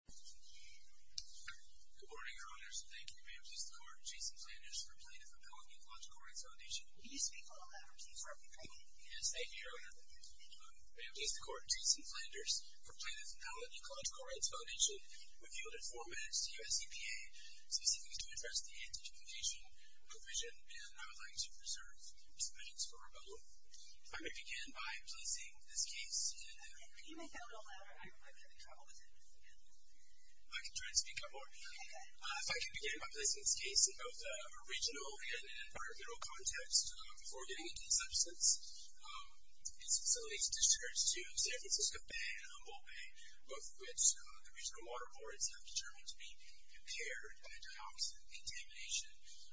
Good morning, Your Honors. Thank you, Ma'am Justice Court, Jason Flanders, for plaintiff appellant in the Ecological Rights Foundation. Will you speak a little louder, please? Yes, thank you, Your Honor. Ma'am Justice Court, Jason Flanders, for plaintiff appellant in the Ecological Rights Foundation. We've yielded four minutes to your SEPA, specifically to address the anti-discrimination provision, and I would like to reserve some minutes for rebuttal. If I may begin by placing this case in the... Can you make that a little louder? I'm having trouble with it. I can try to speak up more. If I could begin by placing this case in both a regional and an environmental context before getting into the substance. This facility is distributed to San Francisco Bay and Humboldt Bay, both of which the regional water boards have determined to be impaired by dioxin contamination.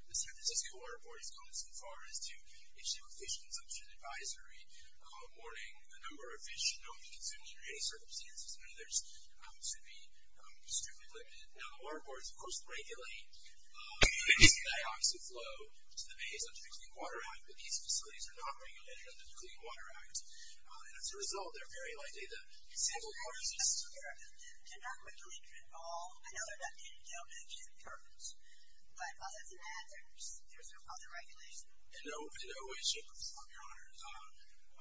The San Francisco water board has gone so far as to issue a fish consumption advisory warning the number of fish should not be consumed under any circumstances, and others should be strictly limited. Now the water boards, of course, regulate the dioxide flow to the bays under the Clean Water Act, but these facilities are not regulated under the Clean Water Act, and as a result, they're very likely to... The San Francisco water boards in San Francisco, Arizona, did not quickly get involved. I know they're not getting dealt with, which isn't perfect, but while that's an ad, there's no other regulation. In no way, shape, or form, Your Honor,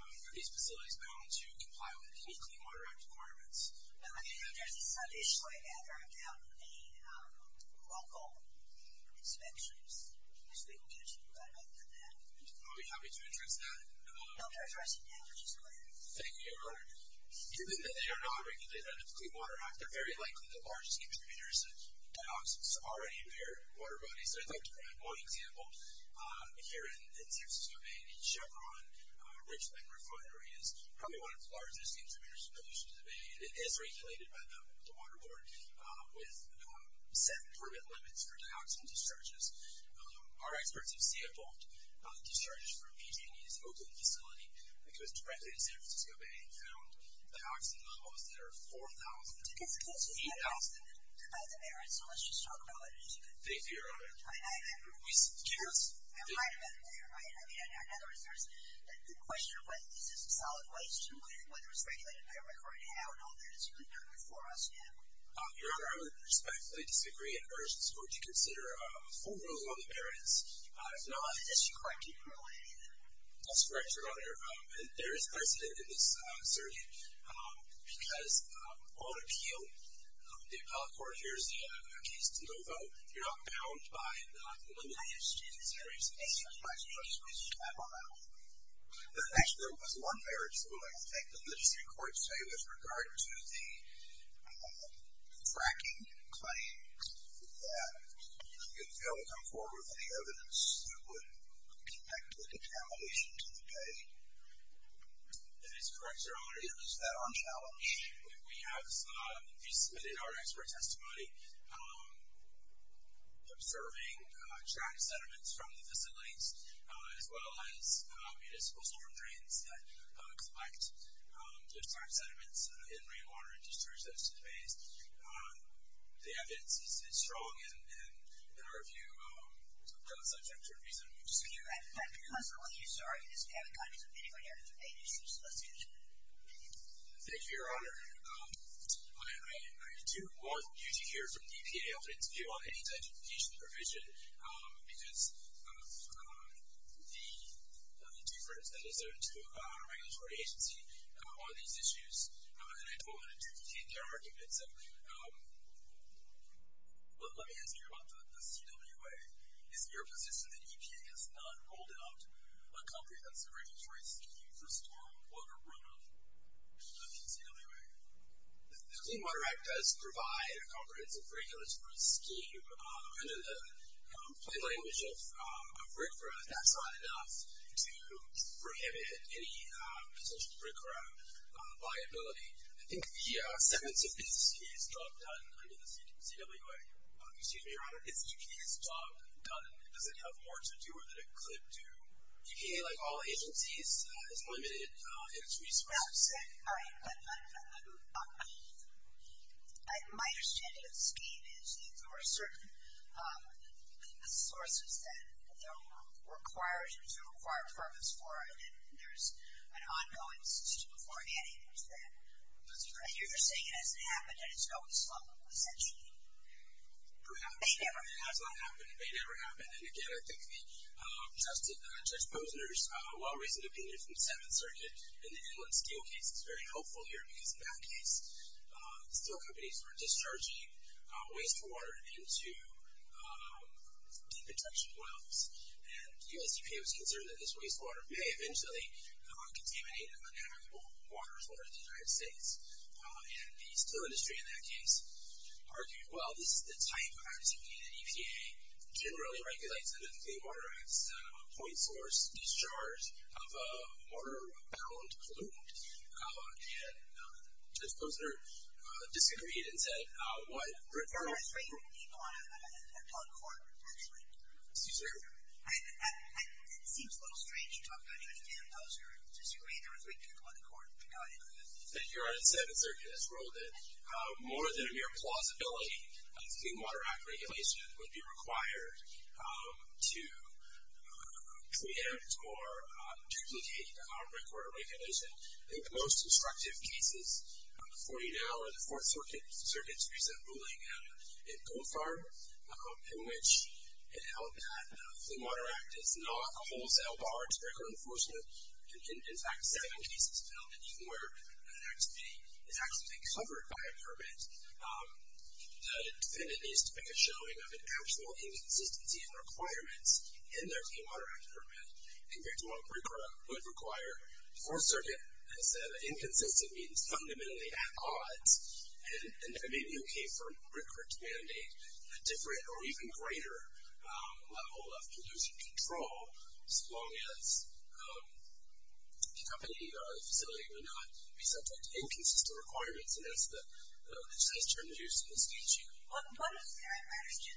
are these facilities bound to comply with any Clean Water Act requirements. There's an issue, I gather, about the local inspections. Can you speak to that? I'll be happy to address that. I'll address it now, which is great. Thank you, Your Honor. Given that they are not regulated under the Clean Water Act, they're very likely the largest contributors to dioxins already in their water bodies. I'd like to provide one example. Here in San Francisco Bay, Chevron Richland Refinery is probably one of the largest contributors to pollution to the bay, and it is regulated by the water board with set permit limits for dioxin discharges. Our experts have sampled discharges from PG&E's Oakland facility, because directly in San Francisco Bay, they found dioxin levels that are 4,000 to 8,000. That's a merit, so let's just talk about it as you go. Thank you, Your Honor. I might have been there, right? I mean, in other words, there's the question of whether this is a solid waste, whether it's regulated by a record, how, and all that. It's really not before us yet. Your Honor, I would respectfully disagree, and urge the Court to consider full rules on the merits. If not— And is she correct in ruling it either? That's correct, Your Honor. There is precedent in this survey, because on appeal, the appellate court hears a case to no vote. You're not bound by the limited exchange of serious cases. That's right, Your Honor. I'm on that one. Actually, there was one merit, so I would like to thank the legislative court to say with regard to the fracking claims that could fail to come forward with any evidence that would impact the contamination to the bay. If it's correct, Your Honor— Is that on challenge? We have submitted our expert testimony observing track sediments from the facilities, as well as municipal storm drains that collect those track sediments in rainwater and discharge those to the bays. The evidence is strong, and in our view, does subject to reasonable dispute. Thank you, Your Honor. I do want you to hear from the EPA on any identification provision, because of the difference that is there to a regulatory agency on these issues. And I don't want to duplicate their arguments. Let me ask you about the CWA. Is it your position that EPA has not rolled out a comprehensive regulatory scheme for stormwater runoff under the CWA? The Clean Water Act does provide a comprehensive regulatory scheme. Under the plain language of RCRA, that's not enough to prohibit any potential RCRA liability. I think the sentence of this is job done under the CWA. Excuse me, Your Honor. Is EPA's job done? Does it have more to do with it than it could do? EPA, like all agencies, is limited in its resources. All right. My understanding of the scheme is that there are certain sources that are required and there's a required purpose for it, and there's an ongoing system of forehanding to that. I hear you're saying it hasn't happened and it's going slow, essentially. Perhaps. It may never happen. It has not happened. It may never happen. And, again, I think Judge Posner's well-recent opinion from the Seventh Circuit in the Inland Steel case is very helpful here, because in that case, steel companies were discharging wastewater into deep detection wells. And the U.S. EPA was concerned that this wastewater may eventually contaminate unhavenable waters in the United States. And the steel industry, in that case, argued, well, this is the type of activity that EPA generally regulates, and that the Clean Water Act is a point source discharge of a water-bound pollutant. And Judge Posner disagreed and said, There are three people on the Court, actually. Excuse me? It seems a little strange talking to Judge Posner. Does he agree there are three people on the Court? I think Your Honor, the Seventh Circuit has ruled that more than a mere plausibility, the Clean Water Act regulation would be required to preempt or duplicate the Montgomery Court of Regulation. I think the most obstructive cases before you now are the Fourth Circuit's recent ruling in Goldfarb, in which it held that the Clean Water Act is not a wholesale bar to breaker enforcement. In fact, seven cases held that even where an activity is actually covered by a permit, the defendant needs to make a showing of an actual inconsistency in requirements in their Clean Water Act permit compared to what a breaker would require. The Fourth Circuit has said inconsistency means fundamentally at odds, and it may be okay for a breaker to mandate a different or even greater level of pollution control as long as the company or facility will not be subject to inconsistent requirements, and that's the precise term used in this case here. What does that matter to you?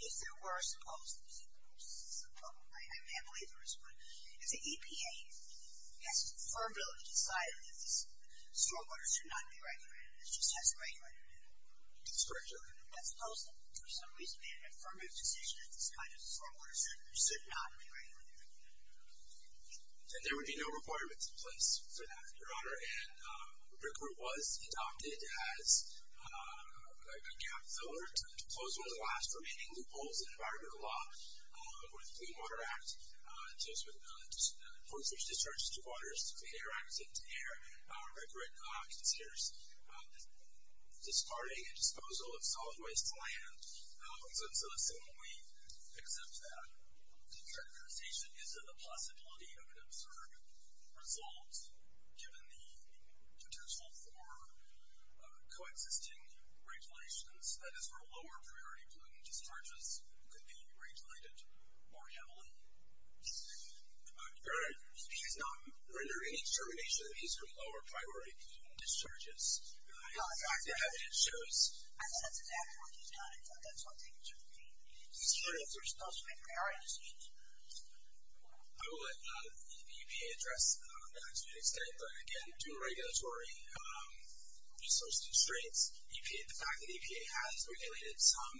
If there were a supposed, I can't believe there is one, if the EPA has affirmatively decided that this stormwater should not be regulated, it just hasn't regulated it at all. That's correct, Your Honor. Let's suppose that for some reason they had an affirmative decision that this kind of stormwater should not be regulated. And the breaker was adopted as a gap filler to close one of the last remaining loopholes in environmental law with the Clean Water Act, just with the enforcement of discharges to waters, to air, and to air. A breaker considers discarding a disposal of solid waste land, so let's assume we accept that characterization. Is it a possibility of an absurd result, given the potential for coexisting regulations, that is for lower priority pollutant discharges could be regulated more heavily? Your Honor, he has not rendered any determination that these are lower priority pollutant discharges. I thought that's exactly what he's done. I thought that's what they should be. Your Honor, if they're disposed to make priority decisions. I will let EPA address that to an extent, but again, due to regulatory and social constraints, the fact that EPA has regulated some.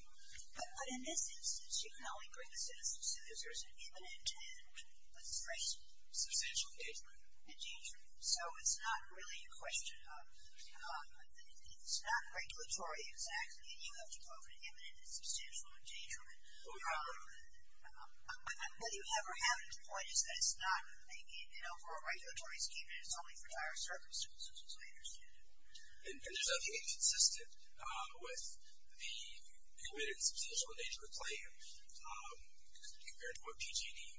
But in this instance, you can only bring a citizen suit if there's an imminent and substantial engagement. So it's not really a question of it's not regulatory exactly, and you have to go for an imminent and substantial engagement. Whether you have or haven't, the point is that it's not, you know, for a regulatory scheme, and it's only for dire circumstances, as I understand it. And is EPA consistent with the imminent and substantial engagement claim, compared to what PG&E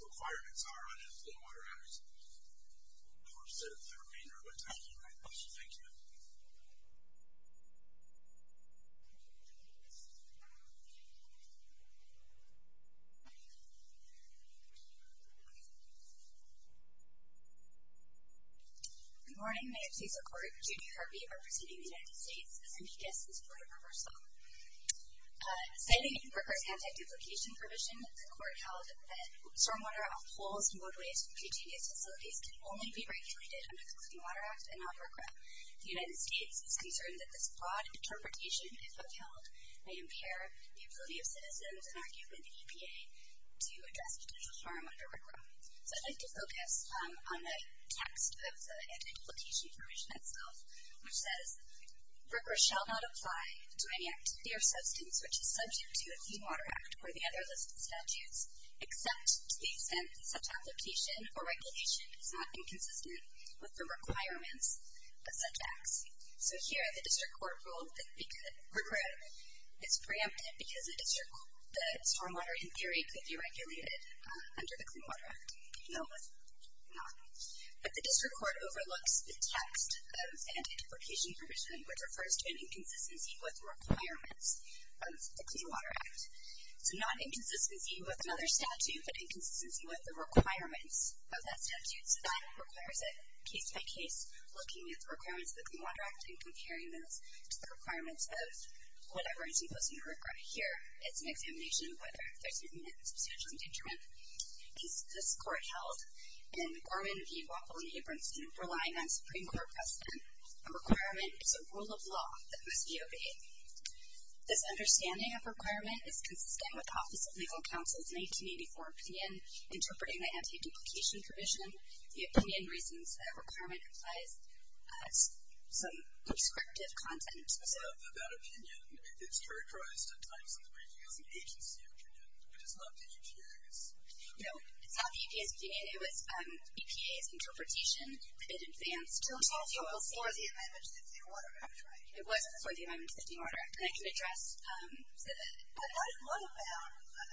requirements are under the Clean Water Act? Of course, that is the remainder of my time. Thank you. Good morning. May it please the Court. Judy Harvey, representing the United States, as amicus in support of reversal. Citing Brooker's anti-duplication provision, the Court held that stormwater off poles and roadways and PG&E facilities can only be regulated under the Clean Water Act and not RCRA. The United States is concerned that this broad interpretation, if upheld, may impair the ability of citizens and, arguably, the EPA to address potential harm under RCRA. So I'd like to focus on the text of the anti-duplication provision itself, which says, RCRA shall not apply to any activity or substance which is subject to a Clean Water Act or the other listed statutes, except to the extent that such application or regulation is not inconsistent with the requirements of such acts. So here, the District Court ruled that RCRA is preempted because the stormwater, in theory, could be regulated under the Clean Water Act. No, it's not. But the District Court overlooks the text of the anti-duplication provision, which refers to an inconsistency with requirements of the Clean Water Act. So not inconsistency with another statute, but inconsistency with the requirements of that statute. So that requires a case-by-case looking at the requirements of the Clean Water Act and comparing those to the requirements of whatever is imposed under RCRA. Here, it's an examination of whether there's any substantial detriment. This Court held in Gorman v. Waffle and Abramson, relying on Supreme Court precedent, a requirement is a rule of law that must be obeyed. This understanding of requirement is consistent with the Office of Legal Counsel's 1984 opinion interpreting the anti-duplication provision. The opinion reasons that requirement implies some prescriptive content. So that opinion is characterized at times in the briefing as an agency opinion. It is not the EPA's. No, it's not the EPA's opinion. It was EPA's interpretation. It advanced to the OLC. It was before the amendment to the Clean Water Act, right? It was before the amendment to the Clean Water Act. And I can address that. But what about, and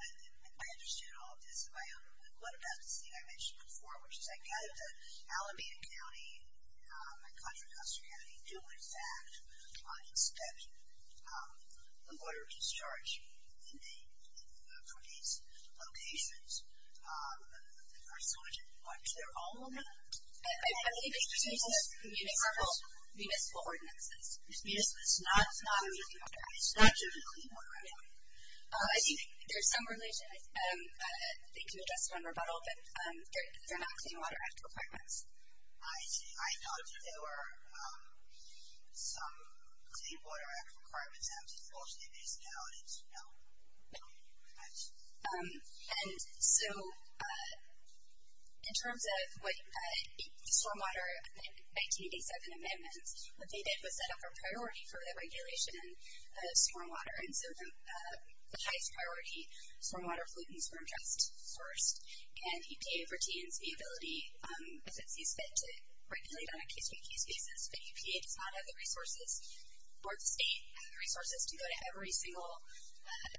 I understood all of this on my own, but what about this thing I mentioned before, on inspecting the water discharge for these locations? Are some of them, or is there all of them? I believe it's used as municipal ordinances. Municipal, it's not the Clean Water Act. It's not due to the Clean Water Act. I think there's some relation, I think you addressed it on rebuttal, but they're not Clean Water Act requirements. I thought there were some Clean Water Act requirements as opposed to municipalities, no? No. And so in terms of what the Swarm Water 1987 amendments, what they did was set up a priority for the regulation of swarm water. And so the highest priority, Swarm Water Fluid and Swarm Trust first, and EPA pertains to the ability, since these fit to regulate on a case-by-case basis, but EPA does not have the resources, or the state has the resources to go to every single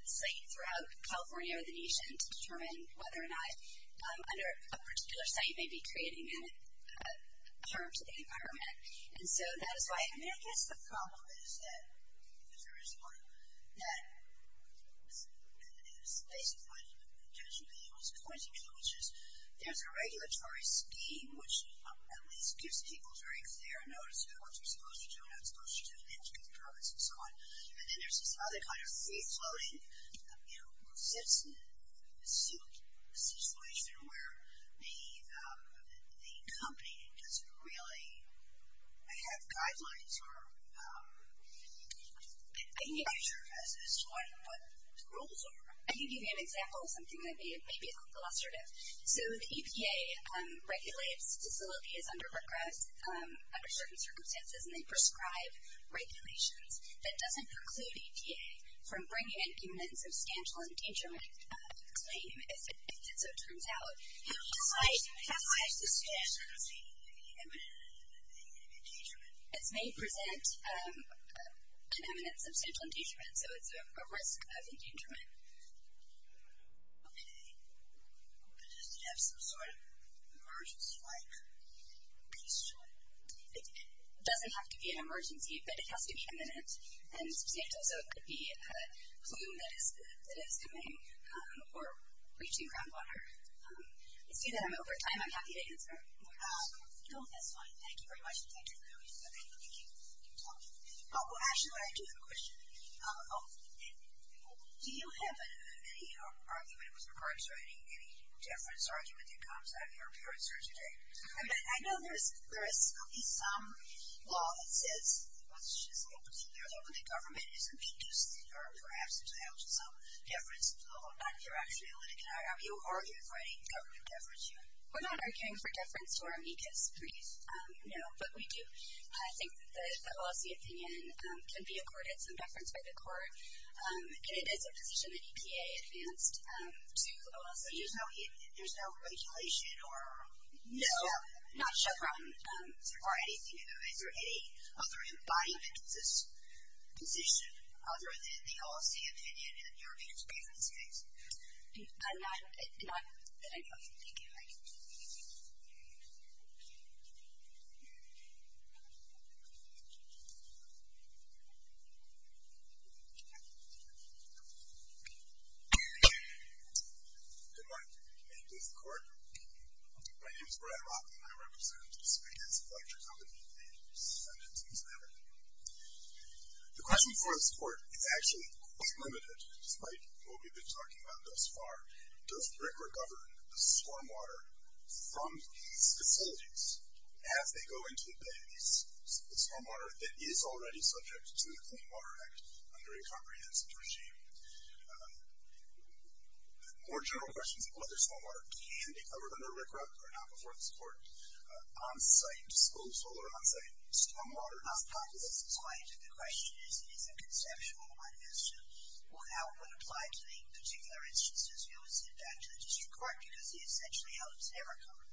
site throughout California or the nation to determine whether or not under a particular site may be creating harm to the environment. And so that is why, I mean, I guess the problem is that, because there is one that is basically, potentially was pointing to, which is there's a regulatory scheme which at least gives people very clear notice of what you're supposed to do and not supposed to do, and then to give permits and so on. And then there's this other kind of free-floating, you know, citizen situation where the company doesn't really have guidelines or practices on what the rules are. I can give you an example of something that may be illustrative. So the EPA regulates facilities under certain circumstances and they prescribe regulations that doesn't preclude EPA from bringing in even a substantial endangerment claim if it so turns out How high is the risk of an imminent endangerment? It may present an imminent substantial endangerment, so it's a risk of endangerment. Okay. But does it have some sort of emergency-like piece to it? It doesn't have to be an emergency, but it has to be imminent and substantial. So it could be a plume that is coming or reaching groundwater. I see that I'm over time. I'm happy to answer more questions. No, that's fine. Thank you very much. Thank you for doing this. Thank you for talking. Oh, well, actually, I do have a question. Do you have any argument with regards to any difference argument that comes out of your appearance here today? I mean, I know there is some law that says, which is a little peculiar, that when the government is inducing or perhaps is allowing some deference to the law, you're actually a litigant. Are you arguing for any government deference here? We're not arguing for deference to our amicus brief, no, but we do. I think that the OLC opinion can be accorded some deference by the court, and it is a position that EPA advanced to OLC. But there's no regulation or step? No, not a step. Or anything of the sort? Is there any other embodiment of this position other than the OLC opinion in your experience? Not that I know of. Thank you. Good morning. May it please the Court? My name is Brad Rockley, and I represent the Spanish Electric Company, a descendant of San Diego. The question for this Court is actually quite limited, despite what we've been talking about thus far. Does Brickler govern the stormwater from these facilities as they go into the bay, the stormwater that is already subject to the Clean Water Act under a comprehensive regime? More general questions about whether stormwater can be covered under RCRA or not before this Court. On-site disposal or on-site stormwater? This is quite a good question. It is a conceptual one. As to how it would apply to the particular instances, we will send that to the district court, because essentially how it was never covered.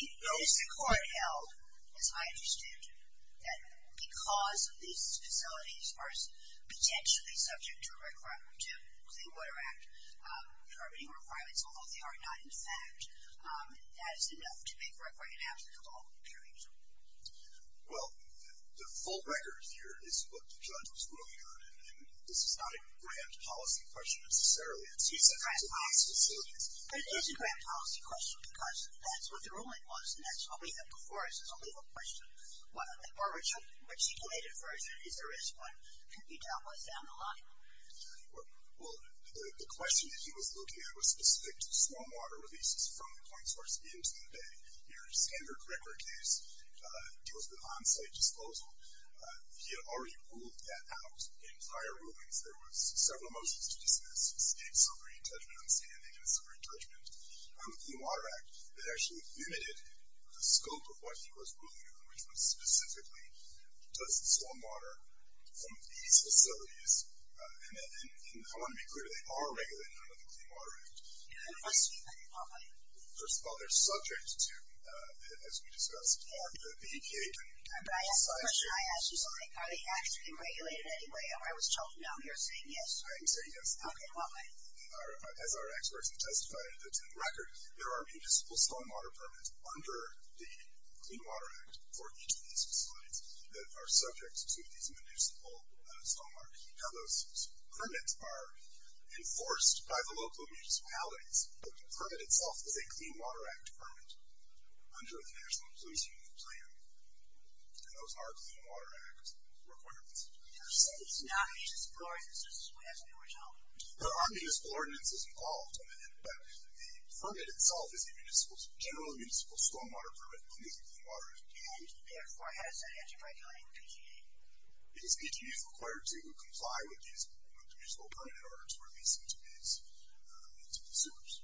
It is the court held, as I understand it, that because these facilities are potentially subject to the Clean Water Act permitting requirements, although they are not in fact, that is enough to make RCRA an absolute law, period. Well, the full record here is what the judge was ruling on, and this is not a grand policy question necessarily. It is a grand policy question, because that's what the ruling was, and that's what we have before us. It's a legal question. A articulated version is the risk one. It can be down, up, down, and a lot of them. Well, the question that he was looking at was specific to stormwater releases from the point source into the bay. Your standard record case deals with on-site disposal. He had already ruled that out in prior rulings. There were several motions to dismiss, state summary judgment on standing and summary judgment. On the Clean Water Act, it actually limited the scope of what he was ruling on, which was specifically does the stormwater from these facilities, and I want to be clear, they are regulated under the Clean Water Act. And what's being regulated? First of all, they're subject to, as we discussed, the EPA permitting. But I have a question. I asked you something. Are they actually regulated anyway? I was told no, and you're saying yes. I am saying yes. Okay, and what way? As our experts have testified to the record, there are municipal stormwater permits under the Clean Water Act for each of these facilities that are subject to these municipal stormwater. Now, those permits are enforced by the local municipalities, but the permit itself is a Clean Water Act permit under the National Inclusion Plan, and those are Clean Water Act requirements. So it's not municipal, or is this just what happened originally? There are municipal ordinances involved, but the permit itself is a general municipal stormwater permit under the Clean Water Act. And therefore, how does that have to regulate the PG&E? Because PG&E is required to comply with the municipal permit in order to release it to its consumers.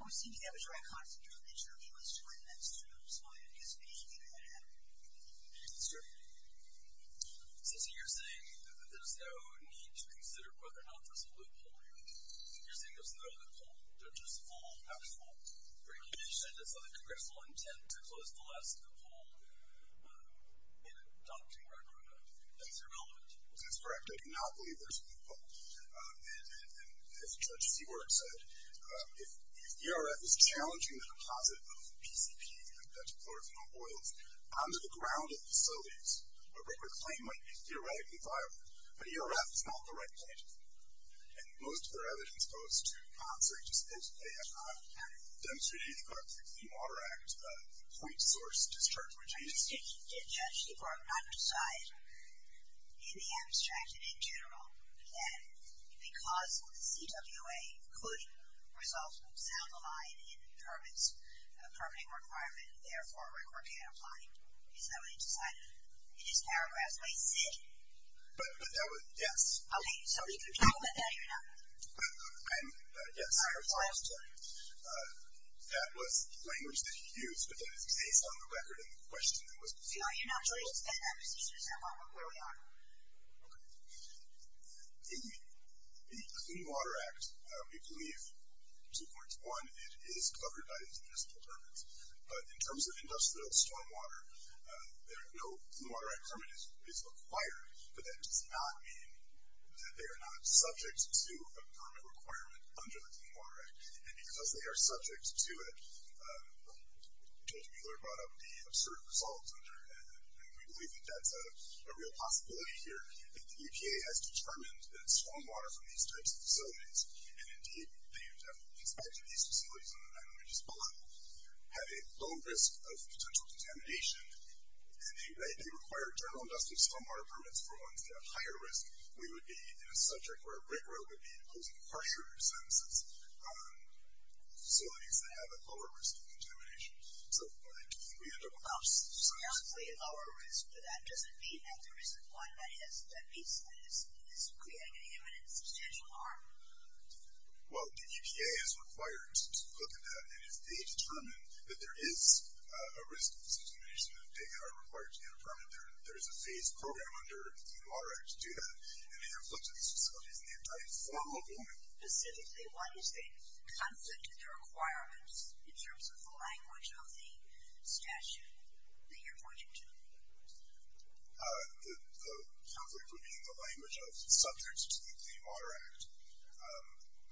Well, it seems that was right. Constantine mentioned that he was doing this to spoil the anticipation that it would happen. Yes, sir. So you're saying that there's no need to consider whether or not there's a loophole here? You're saying there's no loophole? They're just full, half-full regulations, and so the Congress will intend to close the last loophole in adopting record on that? That's irrelevant? That's correct. I do not believe there's a loophole. And as Judge Seward said, if the ERF is challenging the deposit of PCP, that's chlorophenol oils, onto the ground of facilities, a record claim might be theoretically viable. But ERF is not the right place. And most of their evidence goes to concert just as they have not demonstrated in the Congress of the Clean Water Act a point-source discharge regime. Did Judge Seward not decide in the abstract and in general that because CWA could resolve to sound the line in the permitting requirement, therefore a record can't apply? Is that what he decided in his paragraph? Is that what he said? But that was, yes. Okay. So you can talk about that or you're not? I'm, yes. I apologize, Judge. That was the language that he used, but that is based on the record and the question that was posed. So you're not going to extend that position as far as where we are? Okay. The Clean Water Act, we believe, 2.1, it is covered by these municipal permits. But in terms of industrial stormwater, no Clean Water Act permit is required, but that does not mean that they are not subject to a permit requirement under the Clean Water Act. And because they are subject to it, Judge Mueller brought up the absurd results under it, and we believe that that's a real possibility here, that the EPA has determined that stormwater from these types of facilities, and indeed they are definitely subject to these facilities on the nine images below, have a low risk of potential contamination, and they require general industrial stormwater permits for ones that have higher risk. We would be in a subject where a brick road would be imposing harsher sentences on facilities that have a lower risk of contamination. So I think we end up with... Well, scarcely a lower risk, but that doesn't mean that there isn't one that is creating an imminent substantial harm. Well, the EPA is required to look at that, and if they determine that there is a risk of contamination, they are required to get a permit. There is a phased program under the Clean Water Act to do that, and they have looked at these facilities, and they have done it for a long time. Specifically, what is the conflict of the requirements in terms of the language of the statute that you're pointing to? The conflict would be in the language of subject to the Clean Water Act.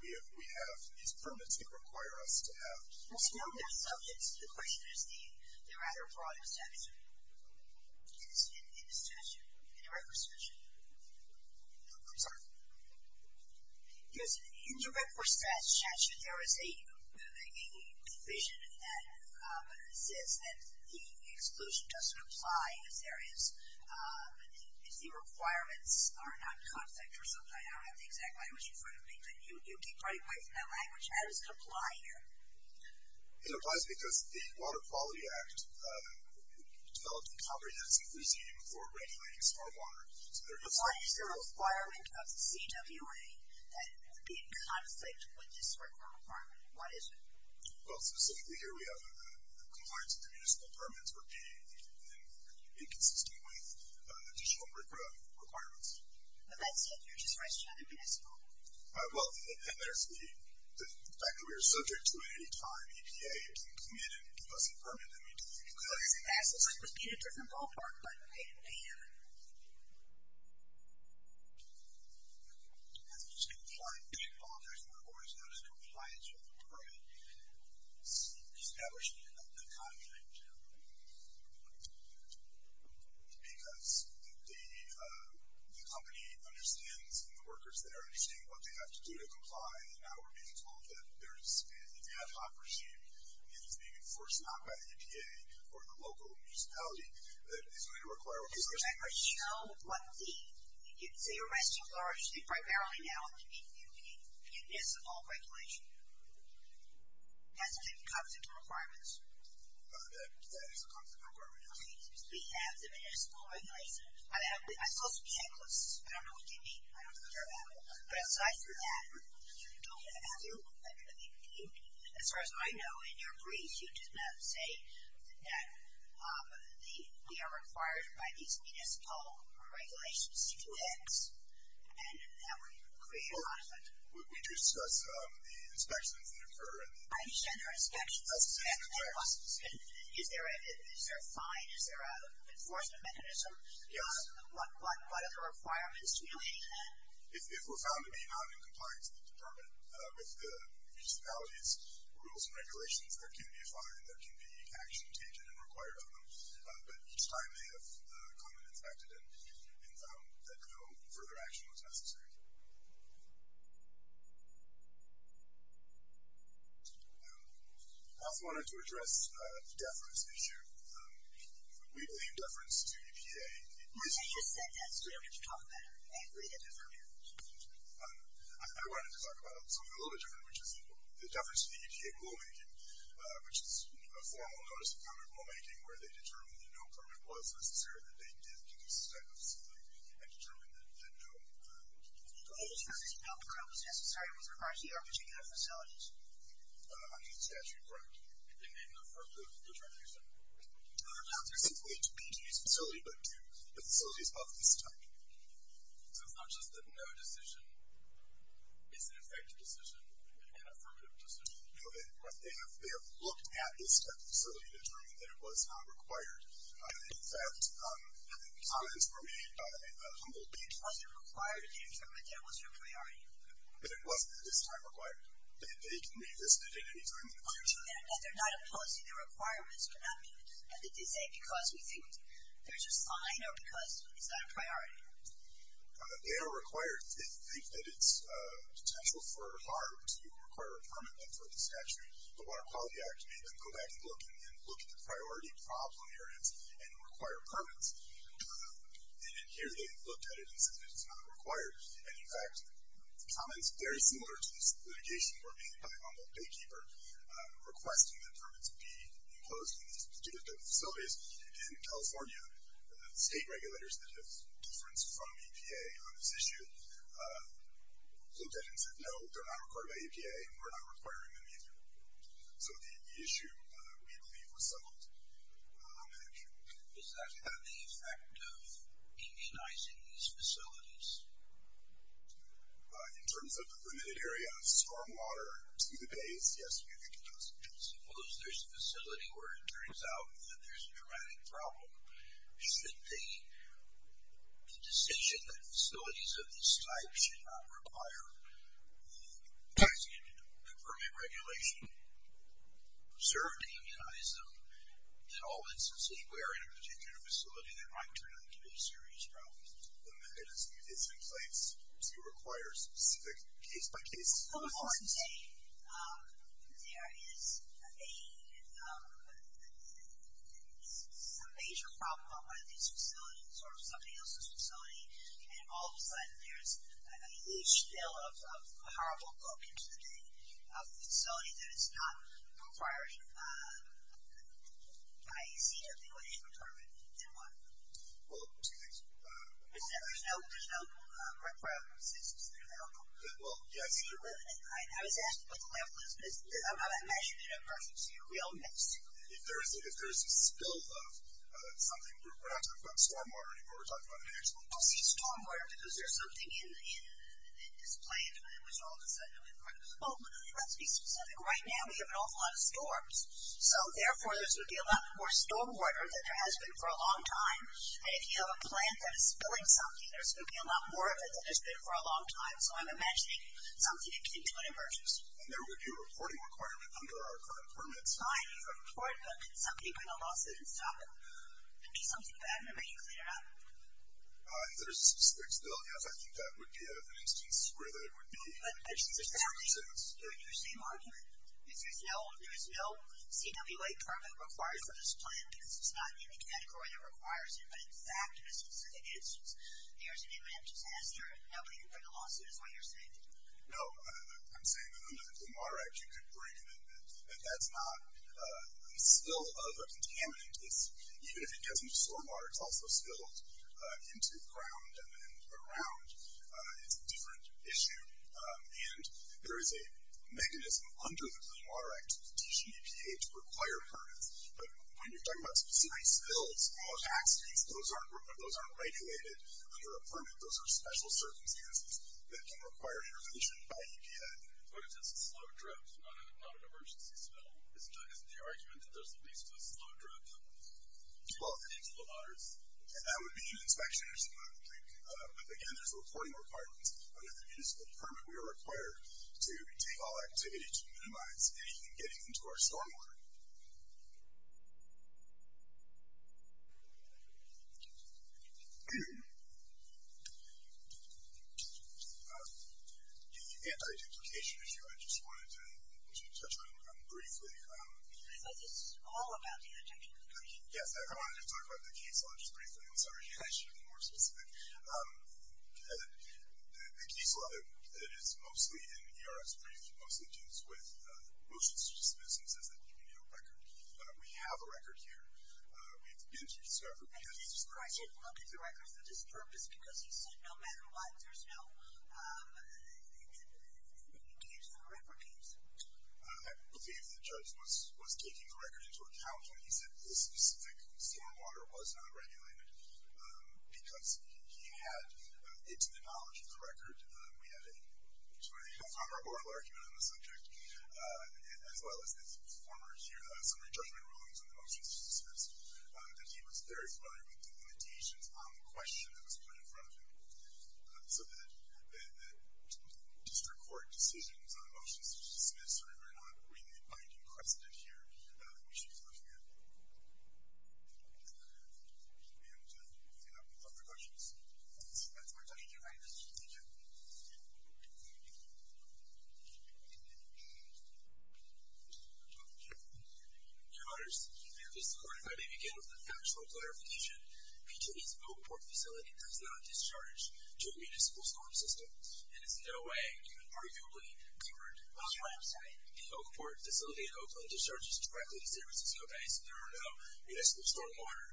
We have these permits that require us to have... There's no more subjects. The question is the rather broad statute, in the statute, in the record statute. I'm sorry? Yes, in the record statute, there is a provision that says that the exclusion doesn't apply if there is... if the requirements are not in conflict or something. I don't have the exact language in front of me, but you keep running away from that language. How does it apply here? It applies because the Water Quality Act developed a comprehensive regime for regulating stormwater. But why is there a requirement of the CWA that it would be in conflict with this requirement? What is it? Well, specifically here, we have the compliance of the municipal permits would be inconsistent with additional requirements. But that's it? You're just restricting the municipal? Well, that matters to me. The fact that we are subject to an anytime EPA being committed to give us a permit, that means that we could... That's what I was going to ask. It's like we'd be in a different ballpark by 8 p.m. That's what you're saying? The board is not in compliance with the permit established in the contract. Because the company understands, and the workers there understand what they have to do to comply, and now we're being told that it's an ad hoc regime, and it's being enforced not by the EPA or the local municipality, that it's going to require... Does it ever show what the... So you're restricting largely, primarily now, the municipal regulation as it comes into requirements? As it comes into requirements. We have the municipal regulation. I saw some checklists. I don't know what you mean. I don't care about it. But aside from that, you don't have your... As far as I know, in your brief, you did not say that we are required by these municipal regulations and that we create a lot of... We do discuss the inspections that occur. I understand there are inspections. Is there a fine? Is there an enforcement mechanism? Yes. What are the requirements relating to that? If we're found to be not in compliance with the permit, with the municipalities' rules and regulations, there can be a fine. There can be action taken and required of them. But each time they have come and inspected and found that no further action was necessary. I also wanted to address the deference issue. We blame deference to EPA. You said that. So what did you talk about? What did you determine? I wanted to talk about something a little bit different, which is the deference to the EPA rulemaking, which is a formal notice of permit rulemaking where they determine that no permit was necessary and that they didn't use this type of facility and determined that no permit was required. No permit was necessary and was required to be offered to any other facilities. Under the statute, correct. And they've made an affirmative determination? No, not specifically to be used in a facility, but to facilities of this type. So it's not just the no decision. It's an effective decision and an affirmative decision. Correct. They have looked at this type of facility and determined that it was not required. And the comments were made by Humboldt. It wasn't required to determine that it wasn't a priority? It wasn't at this time required. They can revisit it at any time. Aren't you saying that they're not opposing the requirements? You're not saying because we think there's a sign or because it's not a priority? They are required. They think that it's potential for harm to require a permit under the statute. The Water Quality Act made them go back and look at the priority problem areas and require permits. And here they looked at it and said it's not required. And, in fact, comments very similar to this litigation were made by Humboldt Baykeeper requesting that permits be imposed in these particular type of facilities. And California state regulators that have differenced from EPA on this issue looked at it and said, no, they're not required by EPA and we're not requiring them either. So the issue, we believe, was settled. Does that have the effect of immunizing these facilities? In terms of the limited area of stormwater to the bays, yes, we think it does. Suppose there's a facility where it turns out that there's a dramatic problem. Should the decision that facilities of this type should not require a tax-funded permit regulation serve to immunize them? In all instances, if we are in a particular facility, there might turn out to be a serious problem. The mechanism in place to require specific case-by-case... Well, before I'm saying there is a... a major problem on one of these facilities or somebody else's facility, and all of a sudden there's a huge spill of horrible book into the facility that is not requiring... I see nothing but a permit in one. Well, two things. There's no required assistance available. Well, yes. I was asking what the level is. I'm not imagining it in a perfectly real mix. If there's a spill of something, we're not talking about stormwater anymore, we're talking about... I see stormwater, but is there something in this plant which all of a sudden... Well, let's be specific. Right now we have an awful lot of storms, so therefore there's going to be a lot more stormwater than there has been for a long time, and if you have a plant that is spilling something, there's going to be a lot more of it than there's been for a long time, so I'm imagining something akin to an emergency. And there would be a reporting requirement under our current permit. It's fine if you report, but could somebody bring a lawsuit and stop it? There could be something bad in it, but you'd clean it up. If there's a spill, yes, I think that would be an instance where there would be... I'm just asking you the same argument. If there's no CWA permit required for this plant, because it's not in the category that requires it, but in fact, in a specific instance, there's an imminent disaster, nobody can bring a lawsuit is what you're saying? No. I'm saying that only the Clean Water Act you could bring an amendment, and that's not a spill of a contaminant. Even if it gets into stormwater, it's also spilled into ground and around. It's a different issue. And there is a mechanism under the Clean Water Act to teach an EPA to require permits. But when you're talking about specific spills, small tax spills, those aren't regulated under a permit. Those are special circumstances that can require intervention by EPA. But if it's a slow drip, not an emergency spill, isn't the argument that there's at least a slow drip into the waters? That would be an inspection or something like that. But again, there's reporting requirements under the municipal permit we are required to take all activity to minimize anything getting into our stormwater. The anti-duplication issue, I just wanted to touch on briefly. Is this all about the anti-duplication issue? Yes. I wanted to talk about the case law just briefly. I'm sorry. I should have been more specific. The case law that is mostly in ERS briefs mostly deals with motions to dismiss and says that you need a record. We have a record here. We've been through discovery. I didn't look at the record for this purpose because you said no matter what, there's no case for the record case. I believe the judge was taking the record into account when he said this specific stormwater was not regulated because he had, to the knowledge of the record, we had a former oral argument on the subject as well as his former summary judgment rulings on the motions to dismiss, that he was very familiar with the limitations on the question that was put in front of him. So the district court decisions on motions to dismiss are not really binding precedent here, which he was looking at. And if you have any further questions, that's my time. Thank you very much. Thank you. Your Honors, this court, if I may begin with a factual clarification, PG&E's Oakport facility does not discharge to a municipal storm system. It is in no way, even arguably, covered. The Oakport facility in Oakland discharges directly to San Francisco Bay, so there are no municipal stormwater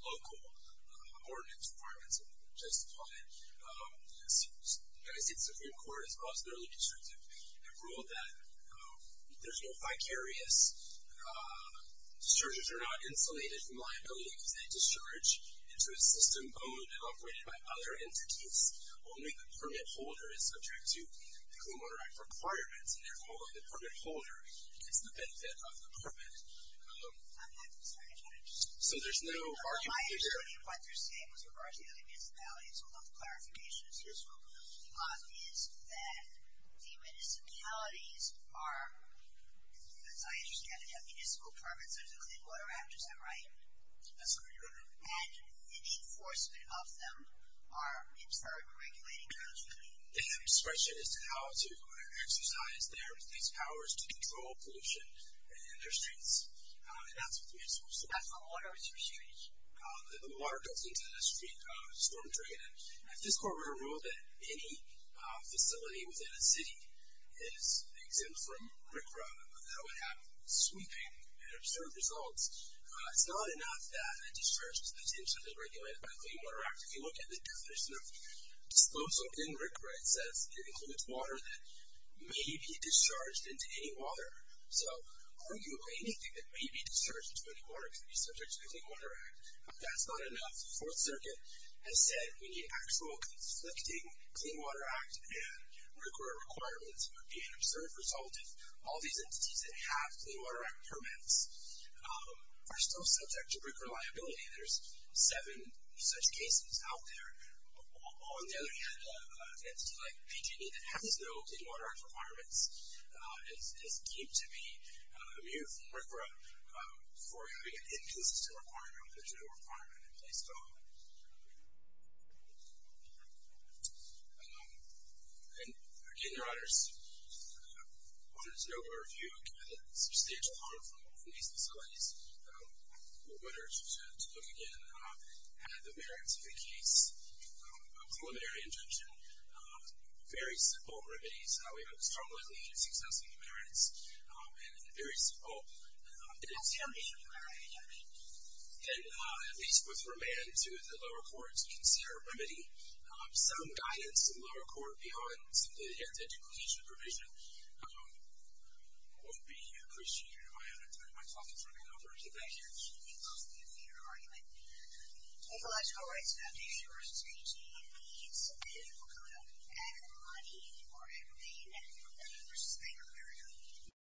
local ordinance requirements that would justify it. As you can see, the Supreme Court, as well as the early district have ruled that there's no vicarious, discharges are not insulated from liability because they discharge into a system owned and operated by other entities. Only the permit holder is subject to the Clean Water Act requirements, and therefore the permit holder gets the benefit of the permit. I'm not concerned about it. So there's no argument here. My understanding of what you're saying with regard to the other municipalities, so a lot of clarification is useful, is that the municipalities are, as I understand it, have municipal permits under the Clean Water Act. Is that right? That's correct, Your Honor. And the enforcement of them are in stark regulating terms. And the question is how to exercise their police powers to control pollution in their streets. And that's what the municipals do. That's not water, it's your street. The water goes into the street storm drain, and Fiscore would have ruled that any facility within a city is exempt from RCRA, that would have sweeping and absurd results. It's not enough that a discharge is potentially regulated by the Clean Water Act. If you look at the definition of disclosure in RCRA, it says it includes water that may be discharged into any water. So arguing anything that may be discharged into any water can be subject to the Clean Water Act. That's not enough. The Fourth Circuit has said we need actual conflicting Clean Water Act and RCRA requirements. It would be an absurd result if all these entities that have Clean Water Act permits are still subject to BRIC reliability. There's seven such cases out there. On the other hand, an entity like PG&E that has no Clean Water Act requirements is deemed to be immune from RCRA for having an inconsistent requirement with a general requirement in place. Again, Your Honors, I wanted to know whether you had substantial harm from these facilities, whether to look again at the merits of the case, preliminary injunction. Very simple remedies. We strongly believe in successful merits and a very simple exemption. And at least with remand, we can see our remedy. Some guidance to the lower court beyond the anti-duplication provision would be appreciated, Your Honor. My talk is running over. Thank you. Thank you for your argument. Ecological Rights Foundation v. PG&E is a political club. Ag and money are everything. Ag and money v. PG&E.